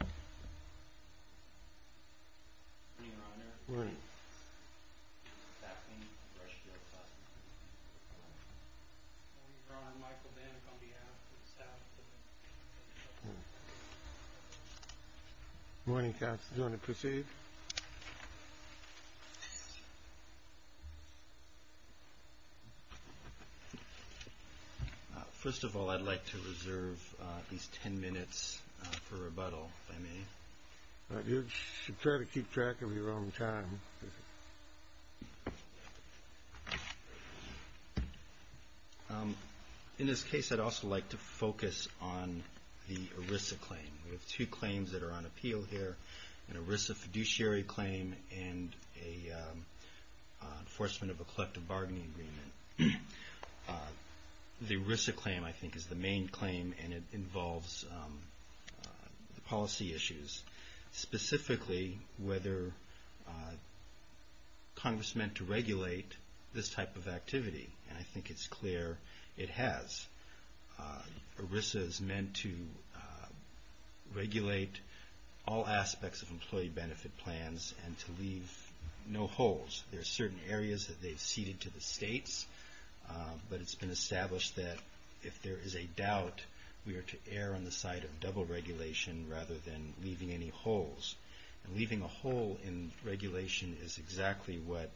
Good morning, Your Honor. Good morning, Counsel. Do you want to proceed? First of all, I'd like to reserve these 10 minutes for rebuttal, if I may. You should try to keep track of your own time. In this case, I'd also like to focus on the ERISA claim. We have two claims that are on and a enforcement of a collective bargaining agreement. The ERISA claim, I think, is the main claim, and it involves policy issues, specifically whether Congress meant to regulate this type of activity, and I think it's clear it has. ERISA is meant to regulate all aspects of employee benefit plans and to leave no holes. There are certain areas that they've ceded to the states, but it's been established that if there is a doubt, we are to err on the side of double regulation rather than leaving any holes. And leaving a hole in regulation is exactly what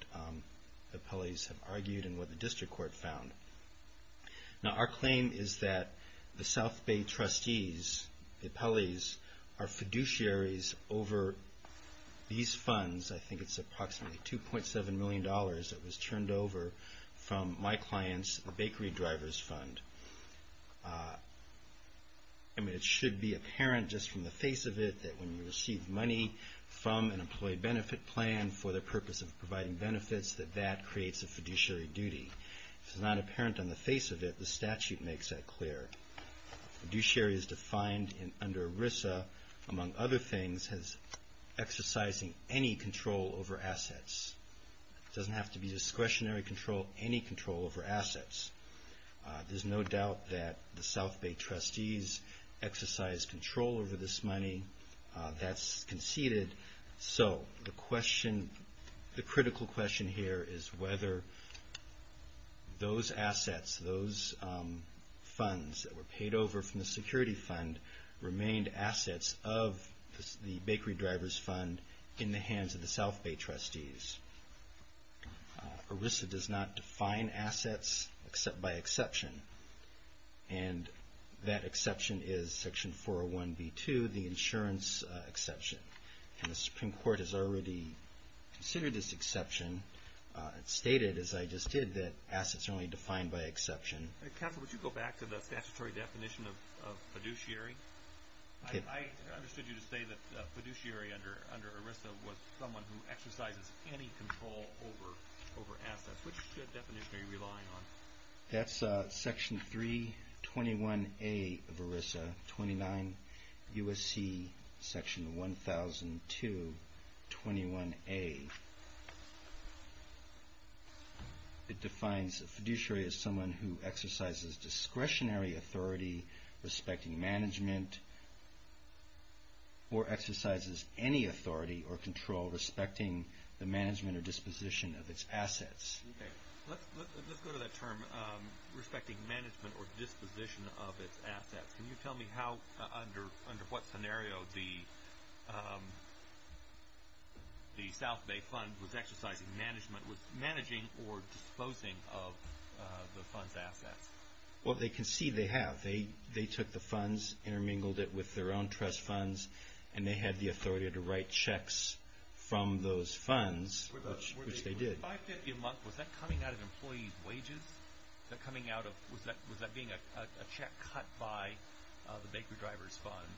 the appellees have argued and what the district court found. Now, our claim is that the South Bay trustees, the appellees, are fiduciaries over these funds. I think it's approximately $2.7 million that was turned over from my client's bakery driver's fund. I mean, it should be apparent just from the face of it that when you receive money from an employee benefit plan for the purpose of providing benefits, that that creates a fiduciary duty. If it's not apparent on the face of it, the statute makes that clear. A fiduciary is defined under ERISA, among other things, as exercising any control over assets. It doesn't have to be discretionary control, any control over assets. There's no doubt that the South Bay trustees exercise control over this money. That's conceded. So the question, the critical question here is whether those assets, those funds that were paid over from the security fund remained assets of the bakery driver's fund in the hands of the South Bay trustees. ERISA does not define assets by exception. And that exception is Section 401B2, the insurance exception. And the Supreme Court has already considered this exception. It's stated, as I just did, that assets are only defined by exception. Counsel, would you go back to the statutory definition of fiduciary? I understood you to say that fiduciary under ERISA was someone who exercises any control over assets. Which definition are you relying on? That's Section 321A of ERISA, 29 U.S.C. Section 1002, 21A. It defines a fiduciary as someone who exercises discretionary authority respecting management or exercises any authority or control respecting the management or disposition of its assets. Okay. Let's go to that term, respecting management or disposition of its assets. Can you tell me how, under what scenario the South Bay fund was exercising management, was managing or disposing of the fund's assets? Well, they concede they have. They took the funds, intermingled it with their own trust funds, and they had the authority to write Was that coming out of employee wages? Was that being a check cut by the Bakery Drivers Fund?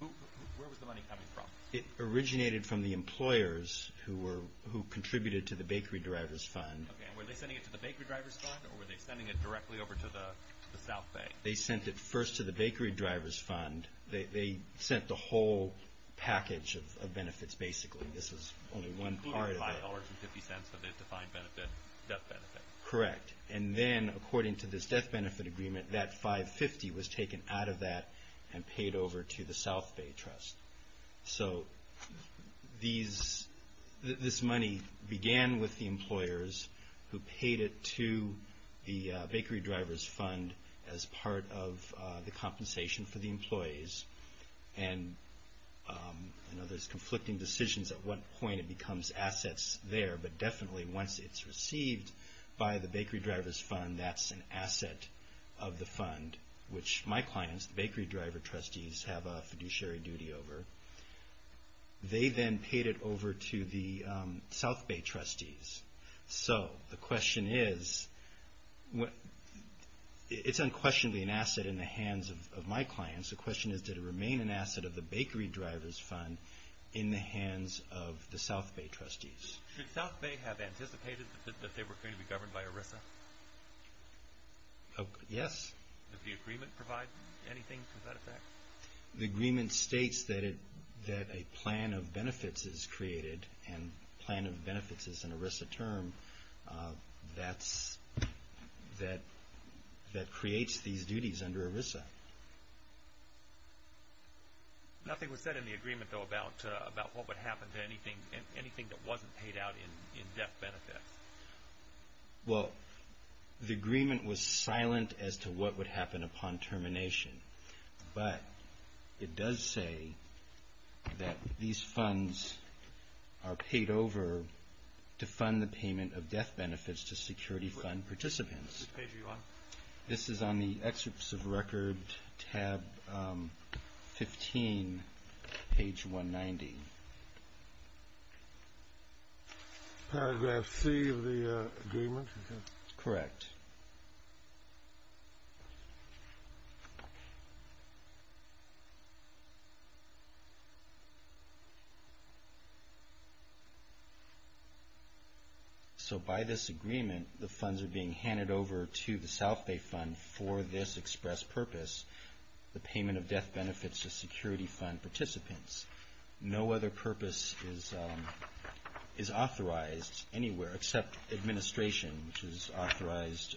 Where was the money coming from? It originated from the employers who contributed to the Bakery Drivers Fund. Okay. And were they sending it to the Bakery Drivers Fund, or were they sending it directly over to the South Bay? They sent it first to the Bakery Drivers Fund. They sent the whole package of benefits, basically. This is only one part of it. Including $5.50 of the defined benefit, death benefit? Correct. And then, according to this death benefit agreement, that $5.50 was taken out of that and paid over to the South Bay Trust. So this money began with the employers who paid it to the Bakery Drivers Fund as part of the compensation for the employees. And there's conflicting decisions at what point it becomes assets there, but definitely once it's received by the Bakery Drivers Fund, that's an asset of the fund, which my clients, the Bakery Driver Trustees, have a fiduciary duty over. They then paid it over to the South Bay Trustees. So the question is, it's unquestionably an asset of the Bakery Drivers Fund in the hands of the South Bay Trustees. Should South Bay have anticipated that they were going to be governed by ERISA? Yes. Does the agreement provide anything to that effect? The agreement states that a plan of benefits is created, and plan of benefits is an ERISA term that creates these duties under ERISA. Nothing was said in the agreement, though, about what would happen to anything that wasn't paid out in death benefits. Well, the agreement was silent as to what would happen upon termination, but it does say that these funds are paid over to fund the payment of death benefits to security fund participants. Which page are you on? This is on the excerpts of record, tab 15, page 190. Paragraph C of the agreement? Correct. So by this agreement, the funds are being handed over to the South Bay Fund for this express purpose, the payment of death benefits to security fund participants. No other purpose is authorized anywhere except administration, which is authorized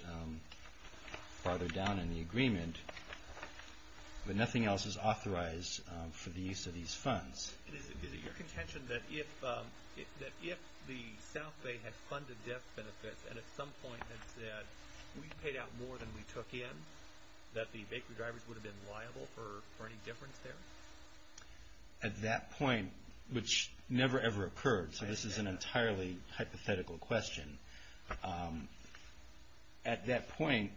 farther down in the agreement, but nothing else is authorized for the use of these funds. Is it your contention that if the South Bay had funded death benefits and at some point had said, we've paid out more than we took in, that the bakery drivers would have been paid? At that point, which never, ever occurred, so this is an entirely hypothetical question. At that point,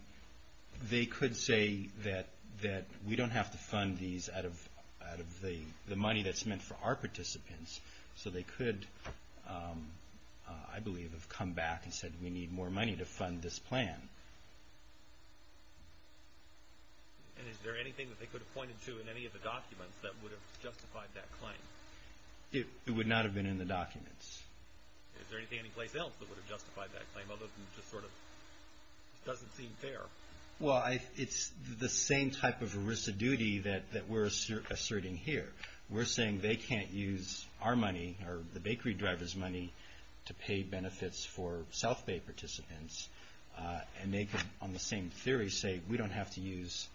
they could say that we don't have to fund these out of the money that's meant for our participants, so they could, I believe, have come back and said, we need more money to fund this plan. And is there anything that they could have pointed to in any of the documents that would have justified that claim? It would not have been in the documents. Is there anything anyplace else that would have justified that claim, although it just sort of doesn't seem fair? Well, it's the same type of residuity that we're asserting here. We're saying they can't use our money, or the bakery drivers' money, to pay benefits for South Bay participants, and they could, on the same theory, say we don't have to use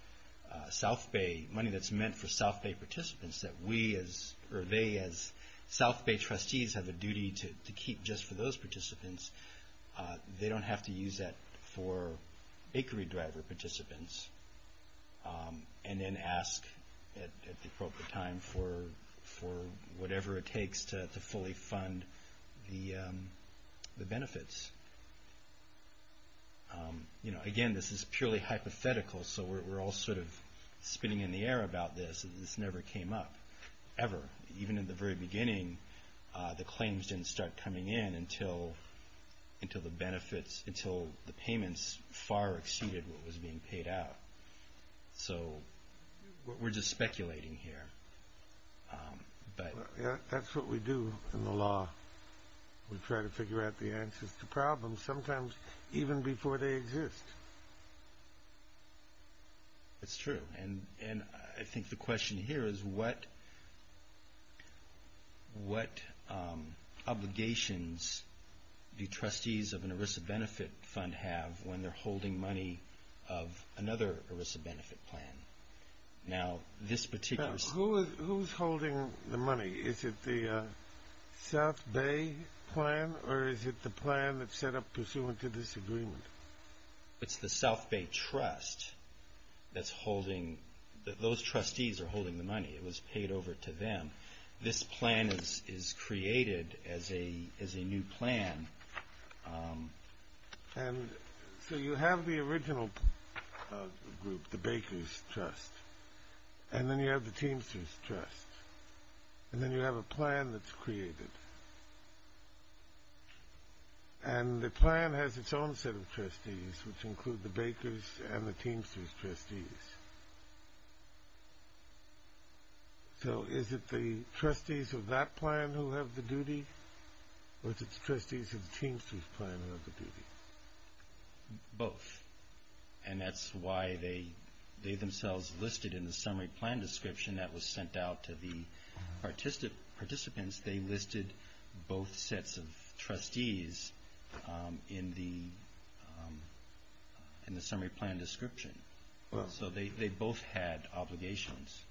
South Bay, money that's meant for South Bay participants, that we as, or they as South Bay trustees have a duty to keep just for those participants. They don't have to use that for bakery driver participants, and then ask at the appropriate time for whatever it takes to fully fund the benefits. Again, this is purely hypothetical, so we're all sort of spinning in the air about this. This never came up, ever. Even in the very beginning, the claims didn't start coming in until the benefits, until the payments far exceeded what was being paid out. So, we're just speculating here. That's what we do in the law. We try to figure out the answers to problems, sometimes even before they exist. It's true, and I think the question here is what obligations do trustees of an ERISA benefit plan? Now, this particular... Who's holding the money? Is it the South Bay plan, or is it the plan that's set up pursuant to this agreement? It's the South Bay trust that's holding, those trustees are holding the money. It was paid over to them. This plan is created as a new plan. So, you have the original group, the Baker's trust, and then you have the Teamster's trust, and then you have a plan that's created. And the plan has its own set of trustees, which include the Baker's and the Teamster's trustees. So, is it the trustees of that plan who have the duty, or is it the trustees of the Teamster's plan who have the duty? Both, and that's why they themselves listed in the summary plan description that was sent out to the participants, they listed both sets of trustees in the summary plan description. So, they both had obligations.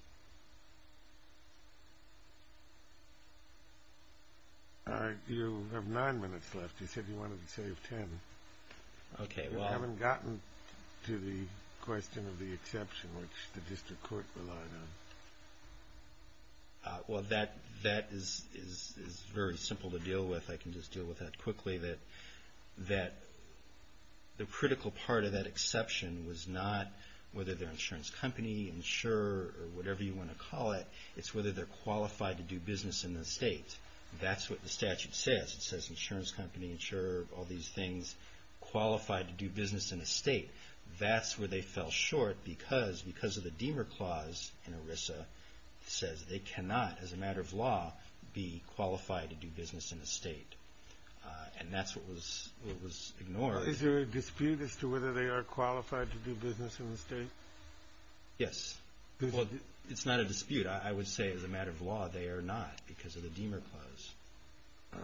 You have nine minutes left. You said you wanted to save ten. Okay, well... You haven't gotten to the question of the exception, which the district court relied on. Well, that is very simple to deal with. I can just deal with that quickly. The critical part of that exception was not whether they're an insurance company, insurer, or whatever you want to call it, it's whether they're qualified to do business in the state. That's what the statute says. It says insurance company, insurer, all these things, qualified to do business in a state. That's where they fell short because of the Deamer Clause in ERISA that says they cannot, as a matter of law, be qualified to do business in a state. And that's what was ignored. Is there a dispute as to whether they are qualified to do business in the state? Yes. Well, it's not a dispute. I would say, as a matter of law, they are not because of the Deamer Clause.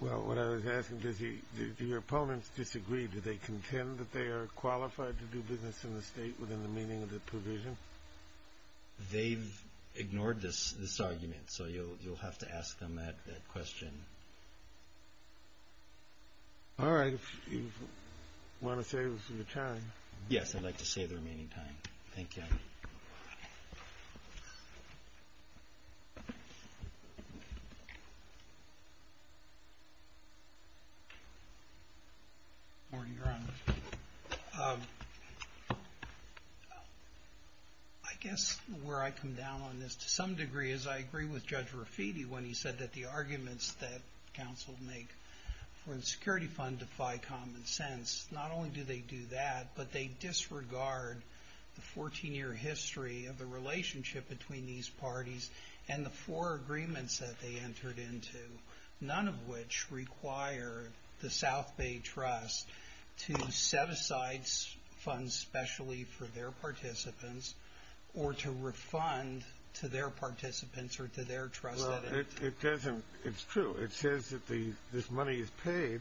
Well, what I was asking, do your opponents disagree? Do they contend that they are qualified to do business in the state within the meaning of the provision? They've ignored this argument, so you'll have to ask them that question. All right. If you want to save the time. Yes, I'd like to save the remaining time. Thank you. Good morning, Your Honor. I guess where I come down on this, to some degree, is I agree with Judge Rafiti when he said that the arguments that counsel make for the security fund defy common sense. Not only do they do that, but they disregard the 14-year history of the relationship between these parties and the four agreements that they entered into, none of which require the South Bay Trust to set aside funds specially for their participants or to refund to their participants or to their trusted entity. Well, it doesn't. It's true. It says that this money is paid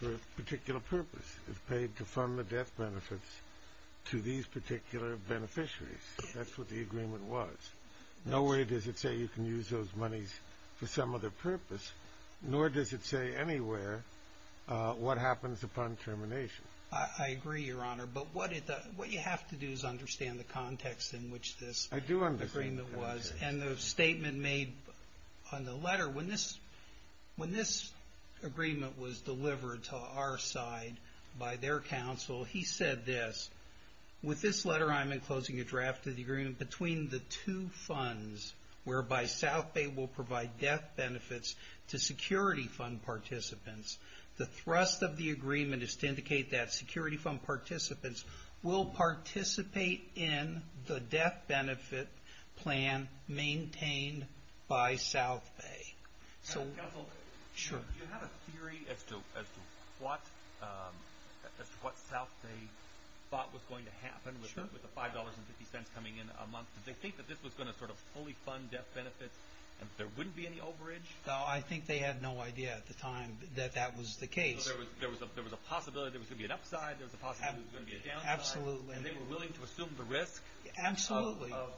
for a particular purpose. It's paid to fund the death benefits to these particular beneficiaries. That's what the agreement was. Nowhere does it say you can use those monies for some other purpose, nor does it say anywhere what happens upon termination. I agree, Your Honor. But what you have to do is understand the context in which this agreement was. I do understand the context. And the statement made on the letter, when this agreement was delivered to our side by their counsel, he said this, with this letter I'm enclosing a draft of the agreement between the two funds whereby South Bay will provide death benefits to security fund participants. The thrust of the agreement is to indicate that security fund participants will participate in the death benefit plan maintained by South Bay. Counsel, do you have a theory as to what South Bay thought was going to happen with the $5.50 coming in a month? Did they think that this was going to fully fund death benefits and that there wouldn't be any overage? I think they had no idea at the time that that was the case. So there was a possibility there was going to be an upside. There was a possibility there was going to be a downside. Absolutely. And they were willing to assume the risk of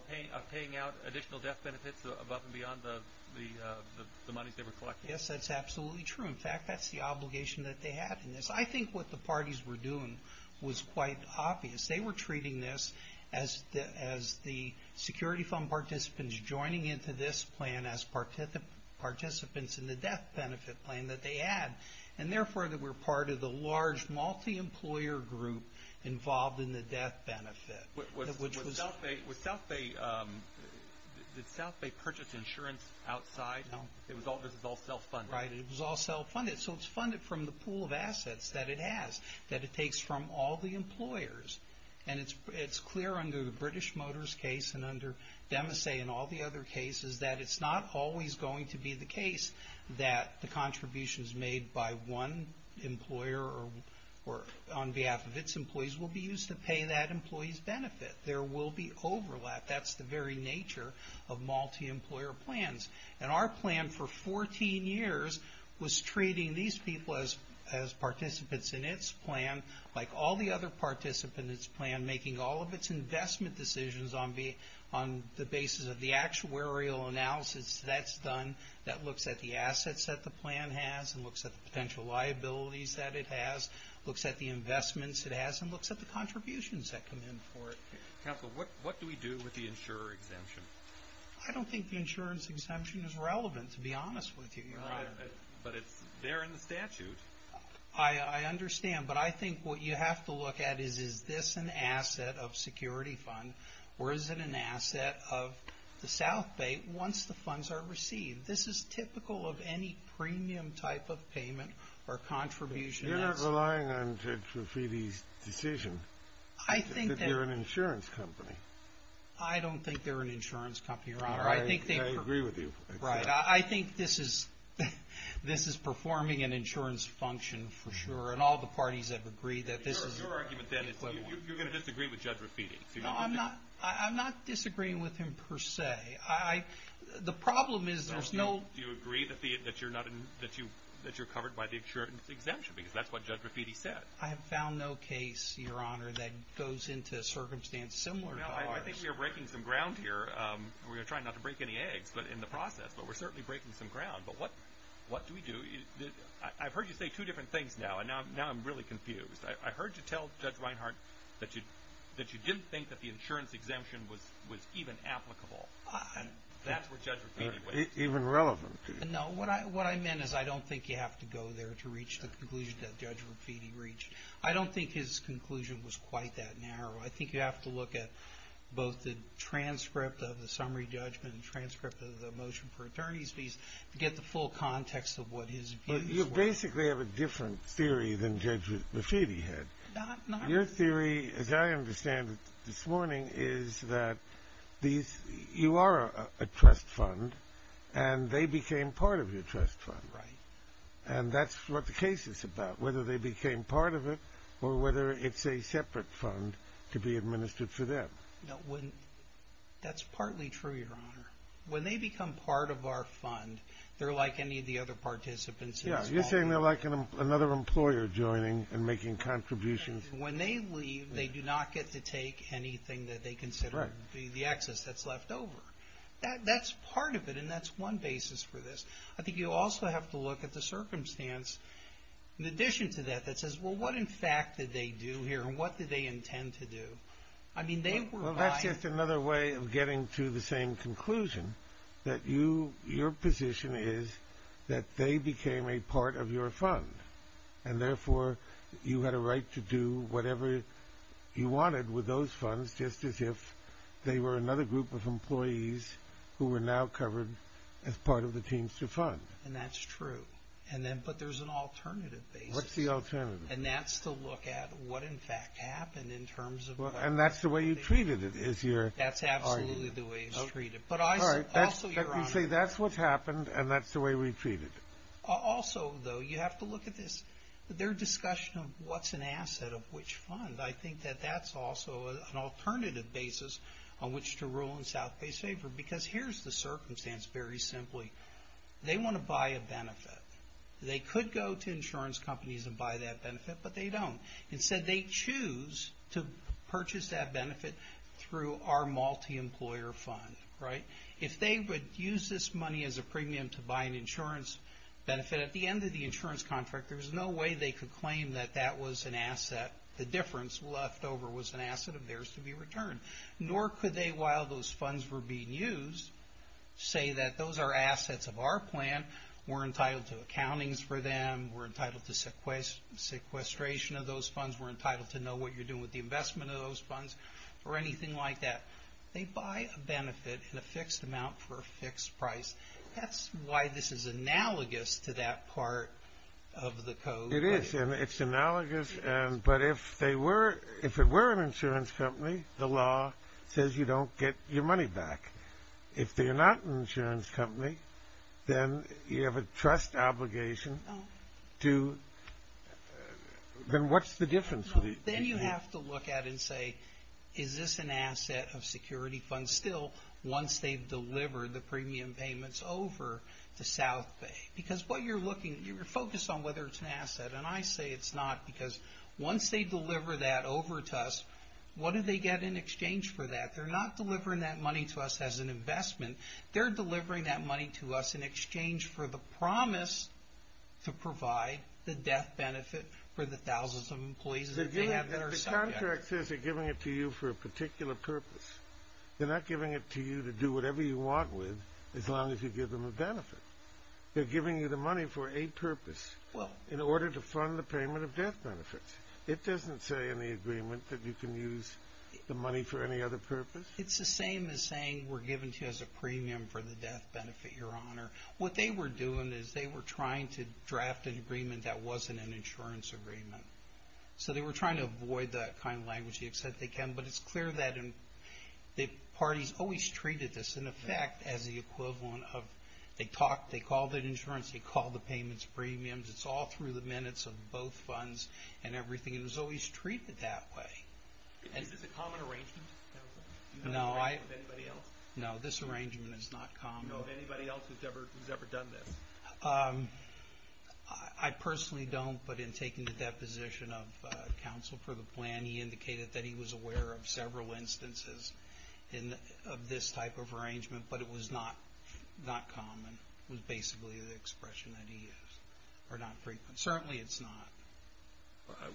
paying out additional death benefits above and beyond the monies they were collecting. Yes, that's absolutely true. In fact, that's the obligation that they had in this. I think what the parties were doing was quite obvious. They were treating this as the security fund participants joining into this plan as participants in the death benefit plan that they had. And, therefore, they were part of the large multi-employer group involved in the death benefit. Did South Bay purchase insurance outside? No. This was all self-funded? Right. It was all self-funded. So it's funded from the pool of assets that it has, that it takes from all the employers. And it's clear under the British Motors case and under Demasey and all the other cases that it's not always going to be the case that the contributions made by one employer or on behalf of its employees will be used to pay that employee's benefit. There will be overlap. That's the very nature of multi-employer plans. And our plan for 14 years was treating these people as participants in its plan, like all the other participants in its plan, making all of its investment decisions on the basis of the actuarial analysis that's done that looks at the assets that the plan has and looks at the potential liabilities that it has, looks at the investments it has, and looks at the contributions that come in for it. Counsel, what do we do with the insurer exemption? I don't think the insurance exemption is relevant, to be honest with you. But it's there in the statute. I understand. But I think what you have to look at is, is this an asset of security fund or is it an asset of the South Bay once the funds are received? This is typical of any premium type of payment or contribution. You're not relying on Judge Raffiti's decision that they're an insurance company. I don't think they're an insurance company, Your Honor. I agree with you. Right. I think this is performing an insurance function for sure, and all the parties have agreed that this is equivalent. Your argument then is you're going to disagree with Judge Raffiti. No, I'm not disagreeing with him per se. The problem is there's no— Do you agree that you're covered by the insurance exemption because that's what Judge Raffiti said? I have found no case, Your Honor, that goes into a circumstance similar to ours. I think we're breaking some ground here. We're trying not to break any eggs in the process, but we're certainly breaking some ground. But what do we do? I've heard you say two different things now, and now I'm really confused. I heard you tell Judge Reinhart that you didn't think that the insurance exemption was even applicable. That's where Judge Raffiti was. Even relevant. No, what I meant is I don't think you have to go there to reach the conclusion that Judge Raffiti reached. I don't think his conclusion was quite that narrow. I think you have to look at both the transcript of the summary judgment and the transcript of the motion for attorney's fees to get the full context of what his views were. You basically have a different theory than Judge Raffiti had. Your theory, as I understand it this morning, is that you are a trust fund, and they became part of your trust fund. Right. And that's what the case is about, whether they became part of it or whether it's a separate fund to be administered for them. That's partly true, Your Honor. When they become part of our fund, they're like any of the other participants in this call. Yeah, you're saying they're like another employer joining and making contributions. When they leave, they do not get to take anything that they consider to be the excess that's left over. That's part of it, and that's one basis for this. I think you also have to look at the circumstance, in addition to that, that says, well, what in fact did they do here, and what did they intend to do? Well, that's just another way of getting to the same conclusion, that your position is that they became a part of your fund, and therefore you had a right to do whatever you wanted with those funds, just as if they were another group of employees who were now covered as part of the Teamster Fund. And that's true, but there's an alternative basis. What's the alternative? And that's to look at what in fact happened in terms of what they did. And that's the way you treated it, is your argument. That's absolutely the way it's treated. All right, let me say that's what's happened, and that's the way we treat it. Also, though, you have to look at this. Their discussion of what's an asset of which fund, I think that that's also an alternative basis on which to rule in South Bay's favor, They want to buy a benefit. They could go to insurance companies and buy that benefit, but they don't. Instead, they choose to purchase that benefit through our multi-employer fund, right? If they would use this money as a premium to buy an insurance benefit, at the end of the insurance contract, there's no way they could claim that that was an asset. The difference left over was an asset of theirs to be returned. Nor could they, while those funds were being used, say that those are assets of our plan. We're entitled to accountings for them. We're entitled to sequestration of those funds. We're entitled to know what you're doing with the investment of those funds or anything like that. They buy a benefit in a fixed amount for a fixed price. That's why this is analogous to that part of the code. It is, and it's analogous, but if it were an insurance company, the law says you don't get your money back. If they're not an insurance company, then you have a trust obligation to – then what's the difference? Then you have to look at it and say, is this an asset of security funds? Still, once they've delivered the premium payments over to South Bay, because what you're looking – you're focused on whether it's an asset, and I say it's not because once they deliver that over to us, what do they get in exchange for that? They're not delivering that money to us as an investment. They're delivering that money to us in exchange for the promise to provide the death benefit for the thousands of employees that they have that are subject. The contract says they're giving it to you for a particular purpose. They're not giving it to you to do whatever you want with as long as you give them a benefit. They're giving you the money for a purpose in order to fund the payment of death benefits. It doesn't say in the agreement that you can use the money for any other purpose? It's the same as saying we're giving it to you as a premium for the death benefit, Your Honor. What they were doing is they were trying to draft an agreement that wasn't an insurance agreement. So they were trying to avoid that kind of language. They said they can, but it's clear that the parties always treated this, in effect, as the equivalent of – they talked, they called it insurance, they called the payments premiums. It's all through the minutes of both funds and everything. It was always treated that way. Is this a common arrangement? Do you know of any arrangement with anybody else? No, this arrangement is not common. Do you know of anybody else who's ever done this? I personally don't, but in taking the deposition of counsel for the plan, he indicated that he was aware of several instances of this type of arrangement, but it was not common. It was basically the expression that he used, or not frequent. Certainly it's not.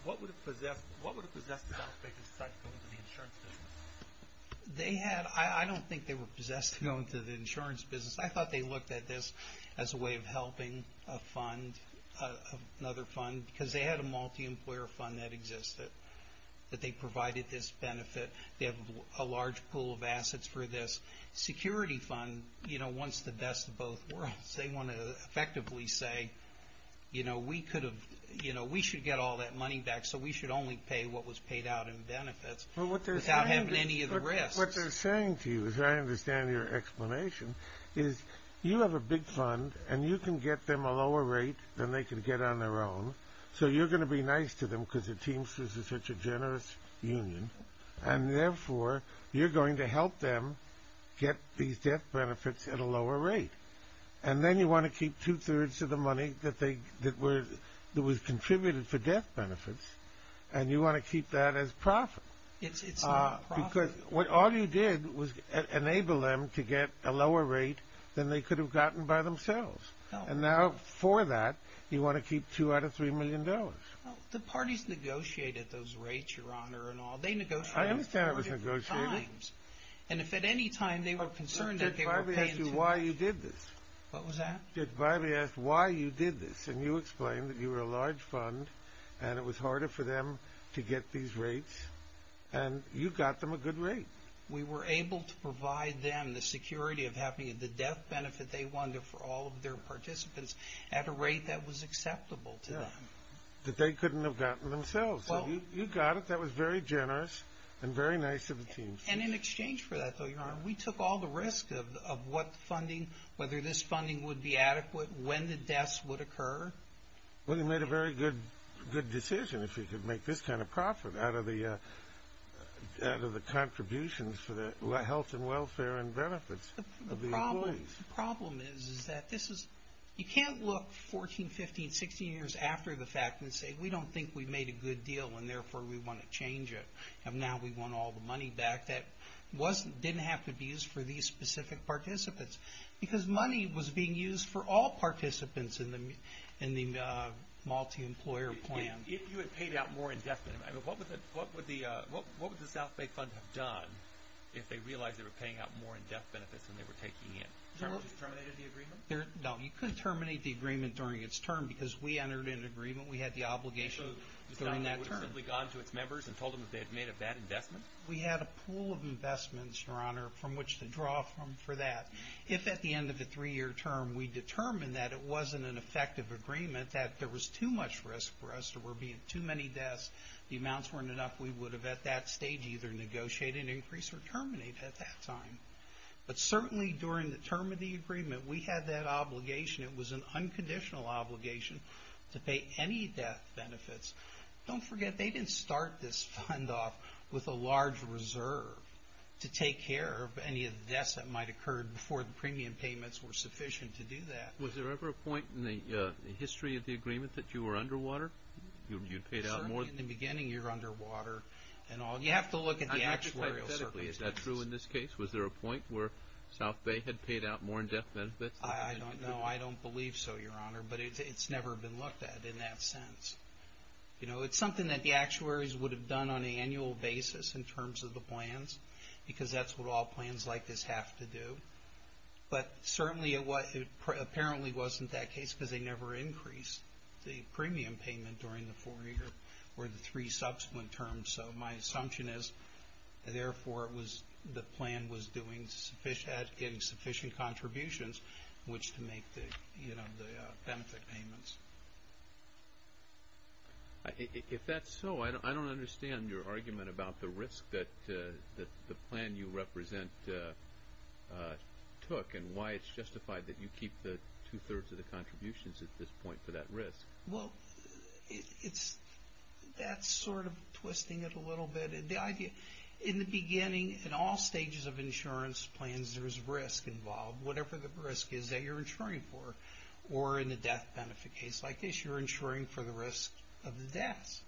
What would have possessed the South Bacon Society to go into the insurance business? They had – I don't think they were possessed to go into the insurance business. I thought they looked at this as a way of helping a fund, another fund, because they had a multi-employer fund that existed that they provided this benefit. They have a large pool of assets for this. The security fund wants the best of both worlds. They want to effectively say, we should get all that money back, so we should only pay what was paid out in benefits without having any of the risks. What they're saying to you, as I understand your explanation, is you have a big fund and you can get them a lower rate than they can get on their own, so you're going to be nice to them because the Teamsters is such a generous union, and therefore you're going to help them get these death benefits at a lower rate. And then you want to keep two-thirds of the money that was contributed for death benefits, and you want to keep that as profit. It's not profit. Because all you did was enable them to get a lower rate than they could have gotten by themselves. And now, for that, you want to keep two out of three million dollars. The parties negotiated those rates, Your Honor, and all. I understand it was negotiated. And if at any time they were concerned that they weren't paying too much. Judge Biby asked you why you did this. What was that? Judge Biby asked why you did this, and you explained that you were a large fund and it was harder for them to get these rates, and you got them a good rate. We were able to provide them the security of having the death benefit they wanted for all of their participants at a rate that was acceptable to them. That they couldn't have gotten themselves. So you got it. That was very generous and very nice of the team. And in exchange for that, though, Your Honor, we took all the risk of what funding, whether this funding would be adequate, when the deaths would occur. Well, you made a very good decision if you could make this kind of profit out of the contributions for the health and welfare and benefits of the employees. The problem is that this is, you can't look 14, 15, 16 years after the fact and say we don't think we made a good deal and therefore we want to change it. And now we want all the money back that didn't have to be used for these specific participants. Because money was being used for all participants in the multi-employer plan. If you had paid out more in death benefits, what would the South Bay Fund have done if they realized they were paying out more in death benefits than they were taking in? Terminated the agreement? No, you couldn't terminate the agreement during its term because we entered an agreement. We had the obligation during that term. So it would have simply gone to its members and told them that they had made a bad investment? We had a pool of investments, Your Honor, from which to draw from for that. If at the end of the three-year term we determined that it wasn't an effective agreement, that there was too much risk for us, there were being too many deaths, the amounts weren't enough, we would have at that stage either negotiated an increase or terminated at that time. But certainly during the term of the agreement, we had that obligation. It was an unconditional obligation to pay any death benefits. Don't forget, they didn't start this fund off with a large reserve to take care of any of the deaths that might have occurred before the premium payments were sufficient to do that. Was there ever a point in the history of the agreement that you were underwater? Certainly in the beginning you're underwater. You have to look at the actuarial circumstances. Is that true in this case? Was there a point where South Bay had paid out more death benefits? I don't know. I don't believe so, Your Honor. But it's never been looked at in that sense. It's something that the actuaries would have done on an annual basis in terms of the plans because that's what all plans like this have to do. But certainly it apparently wasn't that case because they never increased the premium payment during the four-year or the three subsequent terms. So my assumption is, therefore, the plan was doing sufficient contributions in which to make the benefit payments. If that's so, I don't understand your argument about the risk that the plan you represent took and why it's justified that you keep two-thirds of the contributions at this point for that risk. Well, that's sort of twisting it a little bit. In the beginning, in all stages of insurance plans, there's risk involved, whatever the risk is that you're insuring for. Or in the death benefit case like this, you're insuring for the risk of the death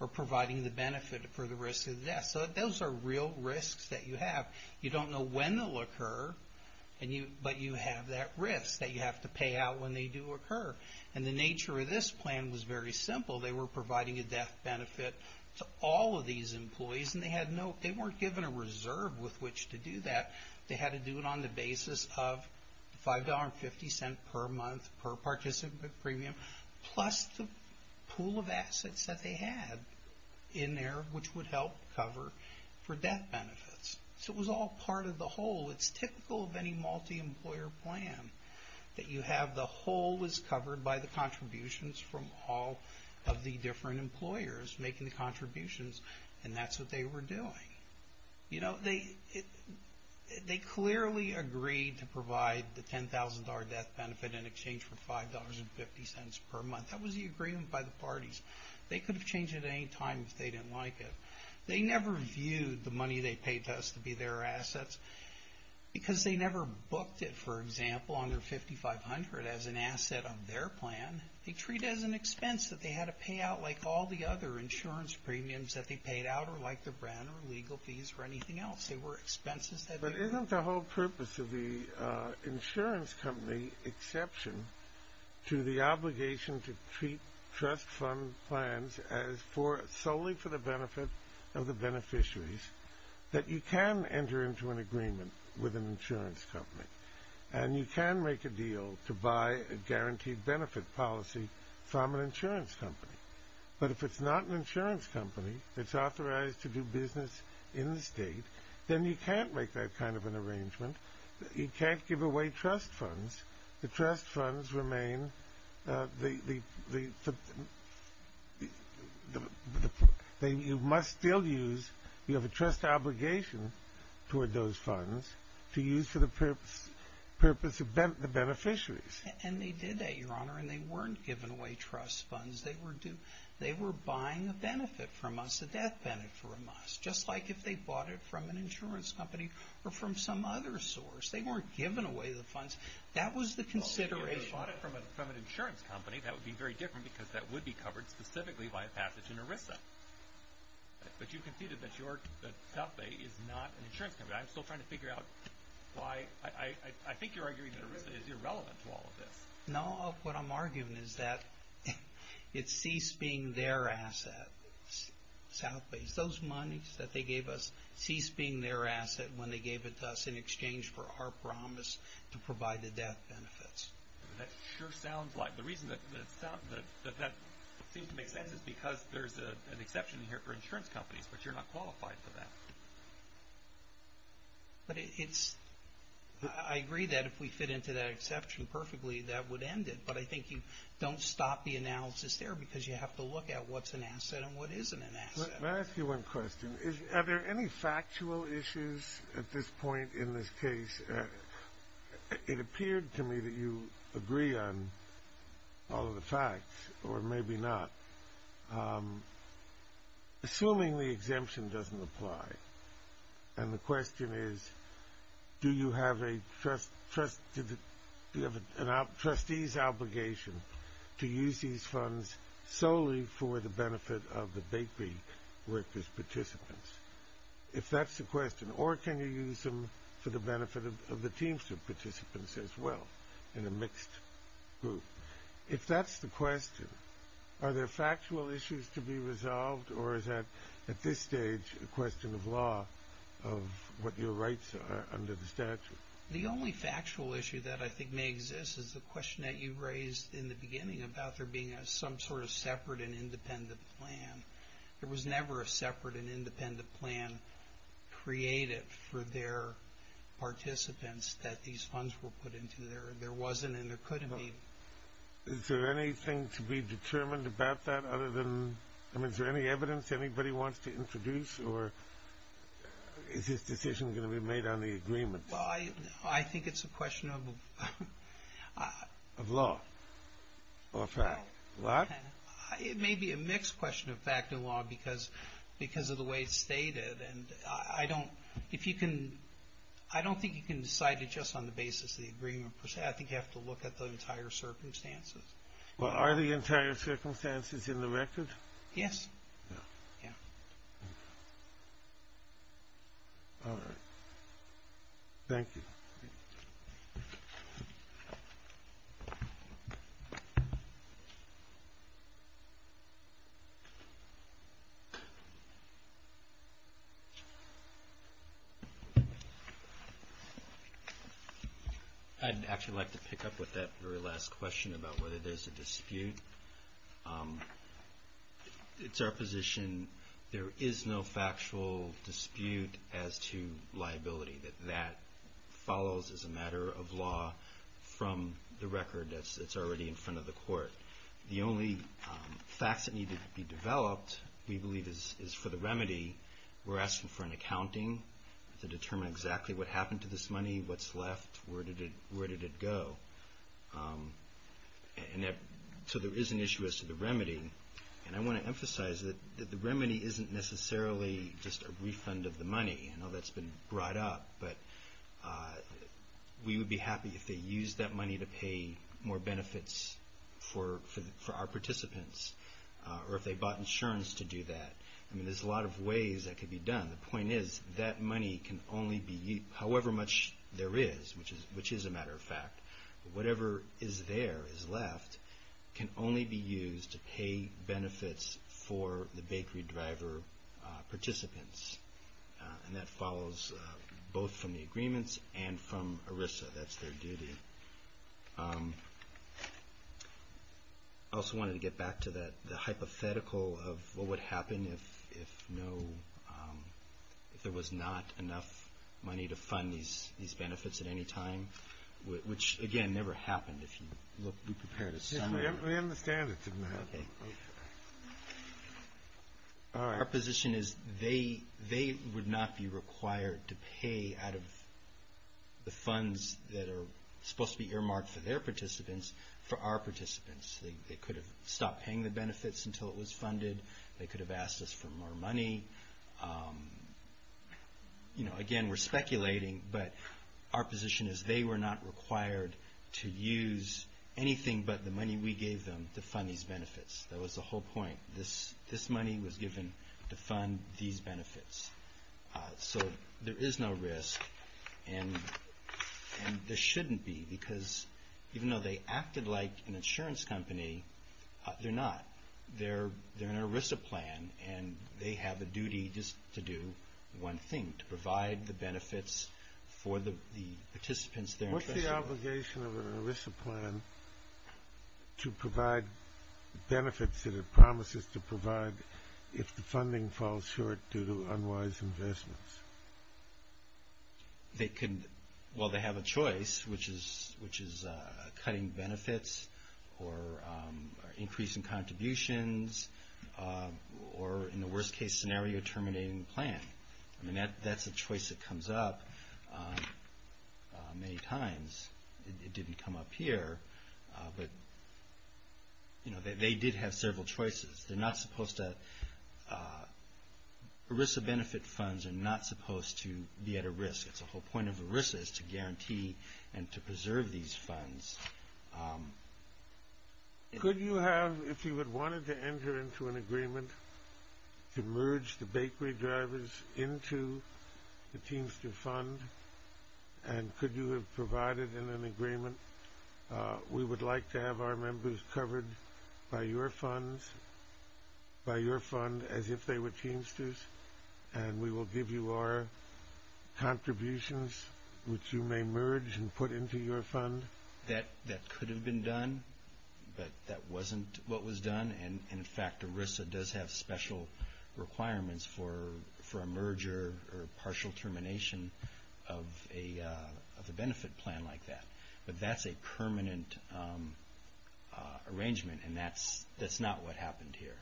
or providing the benefit for the risk of the death. So those are real risks that you have. You don't know when they'll occur, but you have that risk that you have to pay out when they do occur. And the nature of this plan was very simple. They were providing a death benefit to all of these employees, and they weren't given a reserve with which to do that. They had to do it on the basis of $5.50 per month per participant premium, plus the pool of assets that they had in there, which would help cover for death benefits. So it was all part of the whole. It's typical of any multi-employer plan that you have the whole is covered by the contributions from all of the different employers making the contributions, and that's what they were doing. You know, they clearly agreed to provide the $10,000 death benefit in exchange for $5.50 per month. That was the agreement by the parties. They could have changed it at any time if they didn't like it. They never viewed the money they paid to us to be their assets because they never booked it, for example, on their 5,500 as an asset on their plan. They treat it as an expense that they had to pay out like all the other insurance premiums that they paid out or like their brand or legal fees or anything else. They were expenses that they were... But isn't the whole purpose of the insurance company exception to the obligation to treat trust fund plans as solely for the benefit of the beneficiaries that you can enter into an agreement with an insurance company and you can make a deal to buy a guaranteed benefit policy from an insurance company? But if it's not an insurance company that's authorized to do business in the state, then you can't make that kind of an arrangement. You can't give away trust funds. The trust funds remain... You must still use... You have a trust obligation toward those funds to use for the purpose of the beneficiaries. And they did that, Your Honor, and they weren't giving away trust funds. They were buying a benefit from us, a death benefit from us, just like if they bought it from an insurance company or from some other source. They weren't giving away the funds. That was the consideration. If they bought it from an insurance company, that would be very different because that would be covered specifically by a passage in ERISA. But you conceded that South Bay is not an insurance company. I'm still trying to figure out why... I think you're arguing that ERISA is irrelevant to all of this. No, what I'm arguing is that it ceased being their asset, South Bay. Those monies that they gave us ceased being their asset when they gave it to us in exchange for our promise to provide the death benefits. That sure sounds like... The reason that that seems to make sense is because there's an exception here for insurance companies, but you're not qualified for that. But it's... I agree that if we fit into that exception perfectly, that would end it, but I think you don't stop the analysis there because you have to look at what's an asset and what isn't an asset. Let me ask you one question. Are there any factual issues at this point in this case? It appeared to me that you agree on all of the facts, or maybe not. Assuming the exemption doesn't apply, and the question is, do you have a trustee's obligation to use these funds solely for the benefit of the Batebee workers' participants, if that's the question, or can you use them for the benefit of the Teamster participants as well in a mixed group? If that's the question, are there factual issues to be resolved, or is that, at this stage, a question of law of what your rights are under the statute? The only factual issue that I think may exist is the question that you raised in the beginning about there being some sort of separate and independent plan. There was never a separate and independent plan created for their participants that these funds were put into. There wasn't and there couldn't be. Is there anything to be determined about that other than, I mean, is there any evidence anybody wants to introduce, or is this decision going to be made on the agreement? Well, I think it's a question of law or fact. What? It may be a mixed question of fact and law because of the way it's stated, and I don't think you can decide it just on the basis of the agreement. I think you have to look at the entire circumstances. Well, are the entire circumstances in the record? Yes. All right. Thank you. I'd actually like to pick up with that very last question about whether there's a dispute. I think it's our position there is no factual dispute as to liability, that that follows as a matter of law from the record that's already in front of the court. The only facts that need to be developed, we believe, is for the remedy. We're asking for an accounting to determine exactly what happened to this money, what's left, where did it go. And so there is an issue as to the remedy, and I want to emphasize that the remedy isn't necessarily just a refund of the money. I know that's been brought up, but we would be happy if they used that money to pay more benefits for our participants or if they bought insurance to do that. I mean, there's a lot of ways that could be done. The point is that money can only be used, however much there is, which is a matter of fact, whatever is there, is left, can only be used to pay benefits for the bakery driver participants. And that follows both from the agreements and from ERISA. That's their duty. I also wanted to get back to the hypothetical of what would happen if there was not enough money to fund these benefits at any time, which, again, never happened if you prepared a summary. We understand it didn't happen. Okay. Our position is they would not be required to pay out of the funds that are supposed to be earmarked for their participants for our participants. They could have stopped paying the benefits until it was funded. They could have asked us for more money. Again, we're speculating, but our position is they were not required to use anything but the money we gave them to fund these benefits. That was the whole point. This money was given to fund these benefits. So there is no risk, and there shouldn't be, because even though they acted like an insurance company, they're not. They're an ERISA plan, and they have a duty just to do one thing, to provide the benefits for the participants. What's the obligation of an ERISA plan to provide benefits that it promises to provide if the funding falls short due to unwise investments? Well, they have a choice, which is cutting benefits or increasing contributions or, in the worst-case scenario, terminating the plan. I mean, that's a choice that comes up many times. It didn't come up here, but they did have several choices. ERISA benefit funds are not supposed to be at a risk. The whole point of ERISA is to guarantee and to preserve these funds. Could you have, if you had wanted to enter into an agreement to merge the bakery drivers into the Teamster Fund, and could you have provided in an agreement, we would like to have our members covered by your fund as if they were Teamsters, and we will give you our contributions, which you may merge and put into your fund? That could have been done, but that wasn't what was done. And, in fact, ERISA does have special requirements for a merger or a partial termination of a benefit plan like that. But that's a permanent arrangement, and that's not what happened here.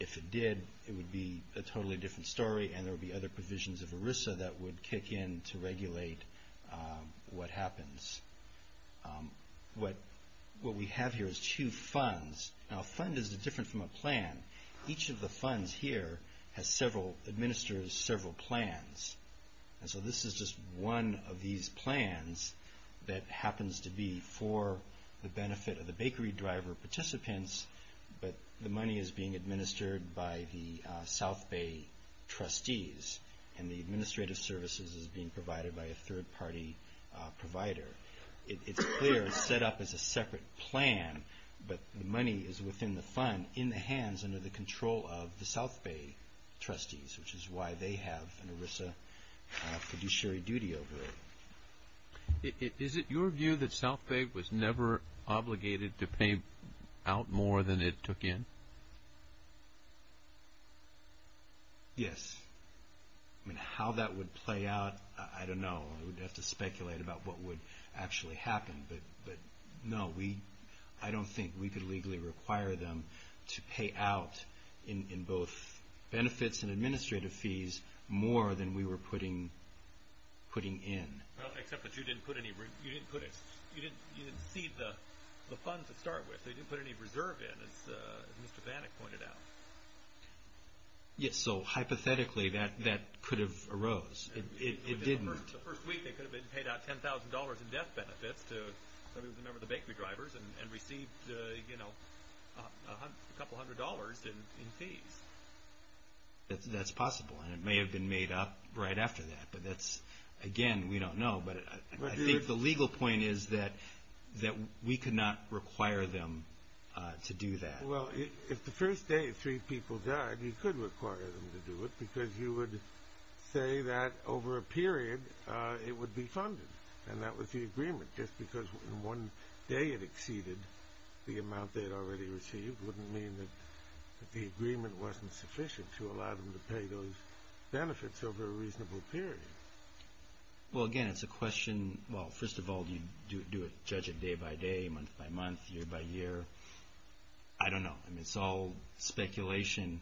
If it did, it would be a totally different story, and there would be other provisions of ERISA that would kick in to regulate what happens. What we have here is two funds. Now, a fund is different from a plan. Each of the funds here administers several plans, and so this is just one of these plans that happens to be for the benefit of the bakery driver participants, but the money is being administered by the South Bay trustees, and the administrative services is being provided by a third-party provider. It's clear it's set up as a separate plan, but the money is within the fund in the hands under the control of the South Bay trustees, which is why they have an ERISA fiduciary duty over it. Is it your view that South Bay was never obligated to pay out more than it took in? Yes. I mean, how that would play out, I don't know. We'd have to speculate about what would actually happen, but no. I don't think we could legally require them to pay out in both benefits and administrative fees more than we were putting in. Well, except that you didn't see the funds to start with. They didn't put any reserve in, as Mr. Bannock pointed out. Yes, so hypothetically that could have arose. It didn't. The first week they could have paid out $10,000 in death benefits to somebody who was a member of the bakery drivers and received a couple hundred dollars in fees. That's possible, and it may have been made up right after that, but that's, again, we don't know. But I think the legal point is that we could not require them to do that. Well, if the first day three people died, you could require them to do it because you would say that over a period it would be funded, and that was the agreement, just because in one day it exceeded the amount they had already received wouldn't mean that the agreement wasn't sufficient to allow them to pay those benefits over a reasonable period. Well, again, it's a question, well, first of all, do you judge it day by day, month by month, year by year? I don't know. I mean, it's all speculation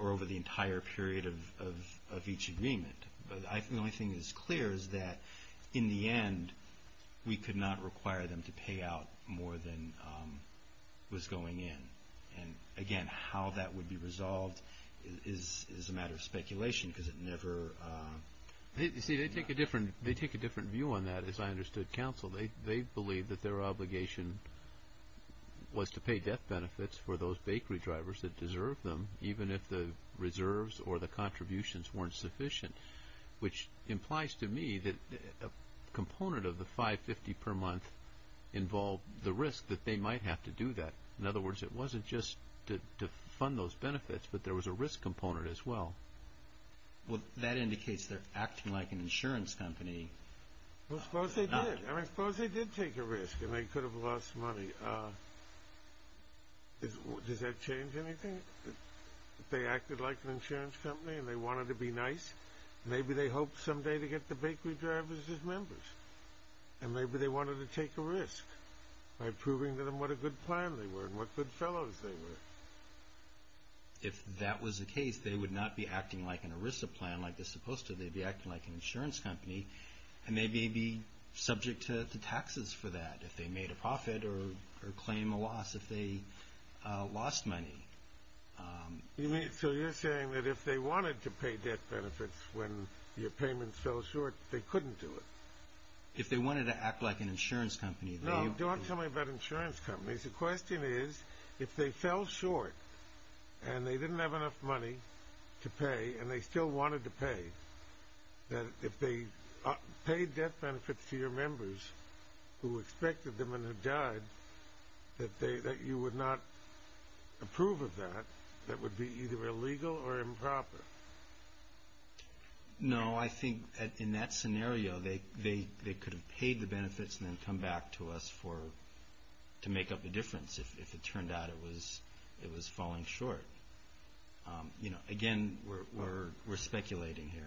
over the entire period of each agreement. The only thing that's clear is that, in the end, we could not require them to pay out more than was going in. And, again, how that would be resolved is a matter of speculation because it never— You see, they take a different view on that, as I understood counsel. They believe that their obligation was to pay death benefits for those bakery drivers that deserved them, even if the reserves or the contributions weren't sufficient, which implies to me that a component of the $5.50 per month involved the risk that they might have to do that. In other words, it wasn't just to fund those benefits, but there was a risk component as well. Well, that indicates they're acting like an insurance company. Well, suppose they did. I mean, suppose they did take a risk and they could have lost money. Does that change anything? If they acted like an insurance company and they wanted to be nice, maybe they hoped someday to get the bakery drivers as members, and maybe they wanted to take a risk by proving to them what a good plan they were and what good fellows they were. If that was the case, they would not be acting like an ERISA plan like they're supposed to. They'd be acting like an insurance company, and they may be subject to taxes for that. If they made a profit or claim a loss, if they lost money. So you're saying that if they wanted to pay debt benefits when your payments fell short, they couldn't do it? If they wanted to act like an insurance company. No, don't tell me about insurance companies. The question is, if they fell short and they didn't have enough money to pay and they still wanted to pay, that if they paid debt benefits to your members who expected them and who died, that you would not approve of that, that would be either illegal or improper? No, I think in that scenario, they could have paid the benefits and then come back to us to make up a difference if it turned out it was falling short. Again, we're speculating here.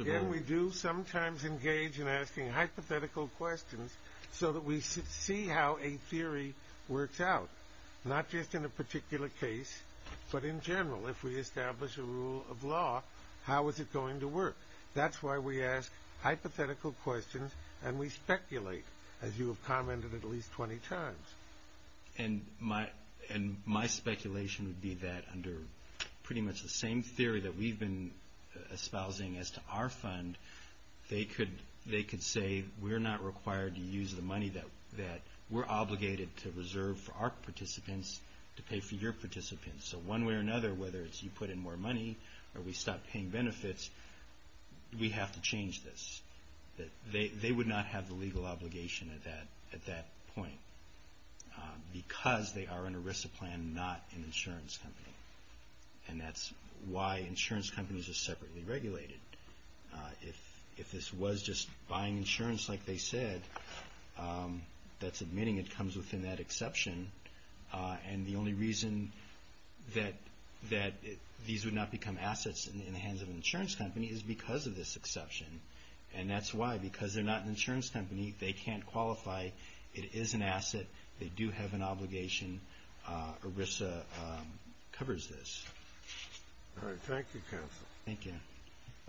Again, we do sometimes engage in asking hypothetical questions so that we see how a theory works out. Not just in a particular case, but in general. If we establish a rule of law, how is it going to work? That's why we ask hypothetical questions and we speculate, as you have commented at least 20 times. My speculation would be that under pretty much the same theory that we've been espousing as to our fund, they could say, we're not required to use the money that we're obligated to reserve for our participants to pay for your participants. One way or another, whether it's you put in more money or we stop paying benefits, we have to change this. They would not have the legal obligation at that point because they are an ERISA plan, not an insurance company. That's why insurance companies are separately regulated. If this was just buying insurance like they said, that's admitting it comes within that exception. The only reason that these would not become assets in the hands of an insurance company is because of this exception. And that's why, because they're not an insurance company. They can't qualify. It is an asset. They do have an obligation. ERISA covers this. All right. Thank you, counsel. Thank you.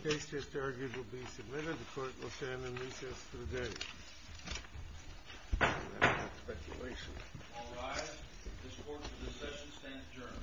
The case just argued will be submitted. The court will stand in recess for the day. I have no speculation. All rise. This court for this session stands adjourned.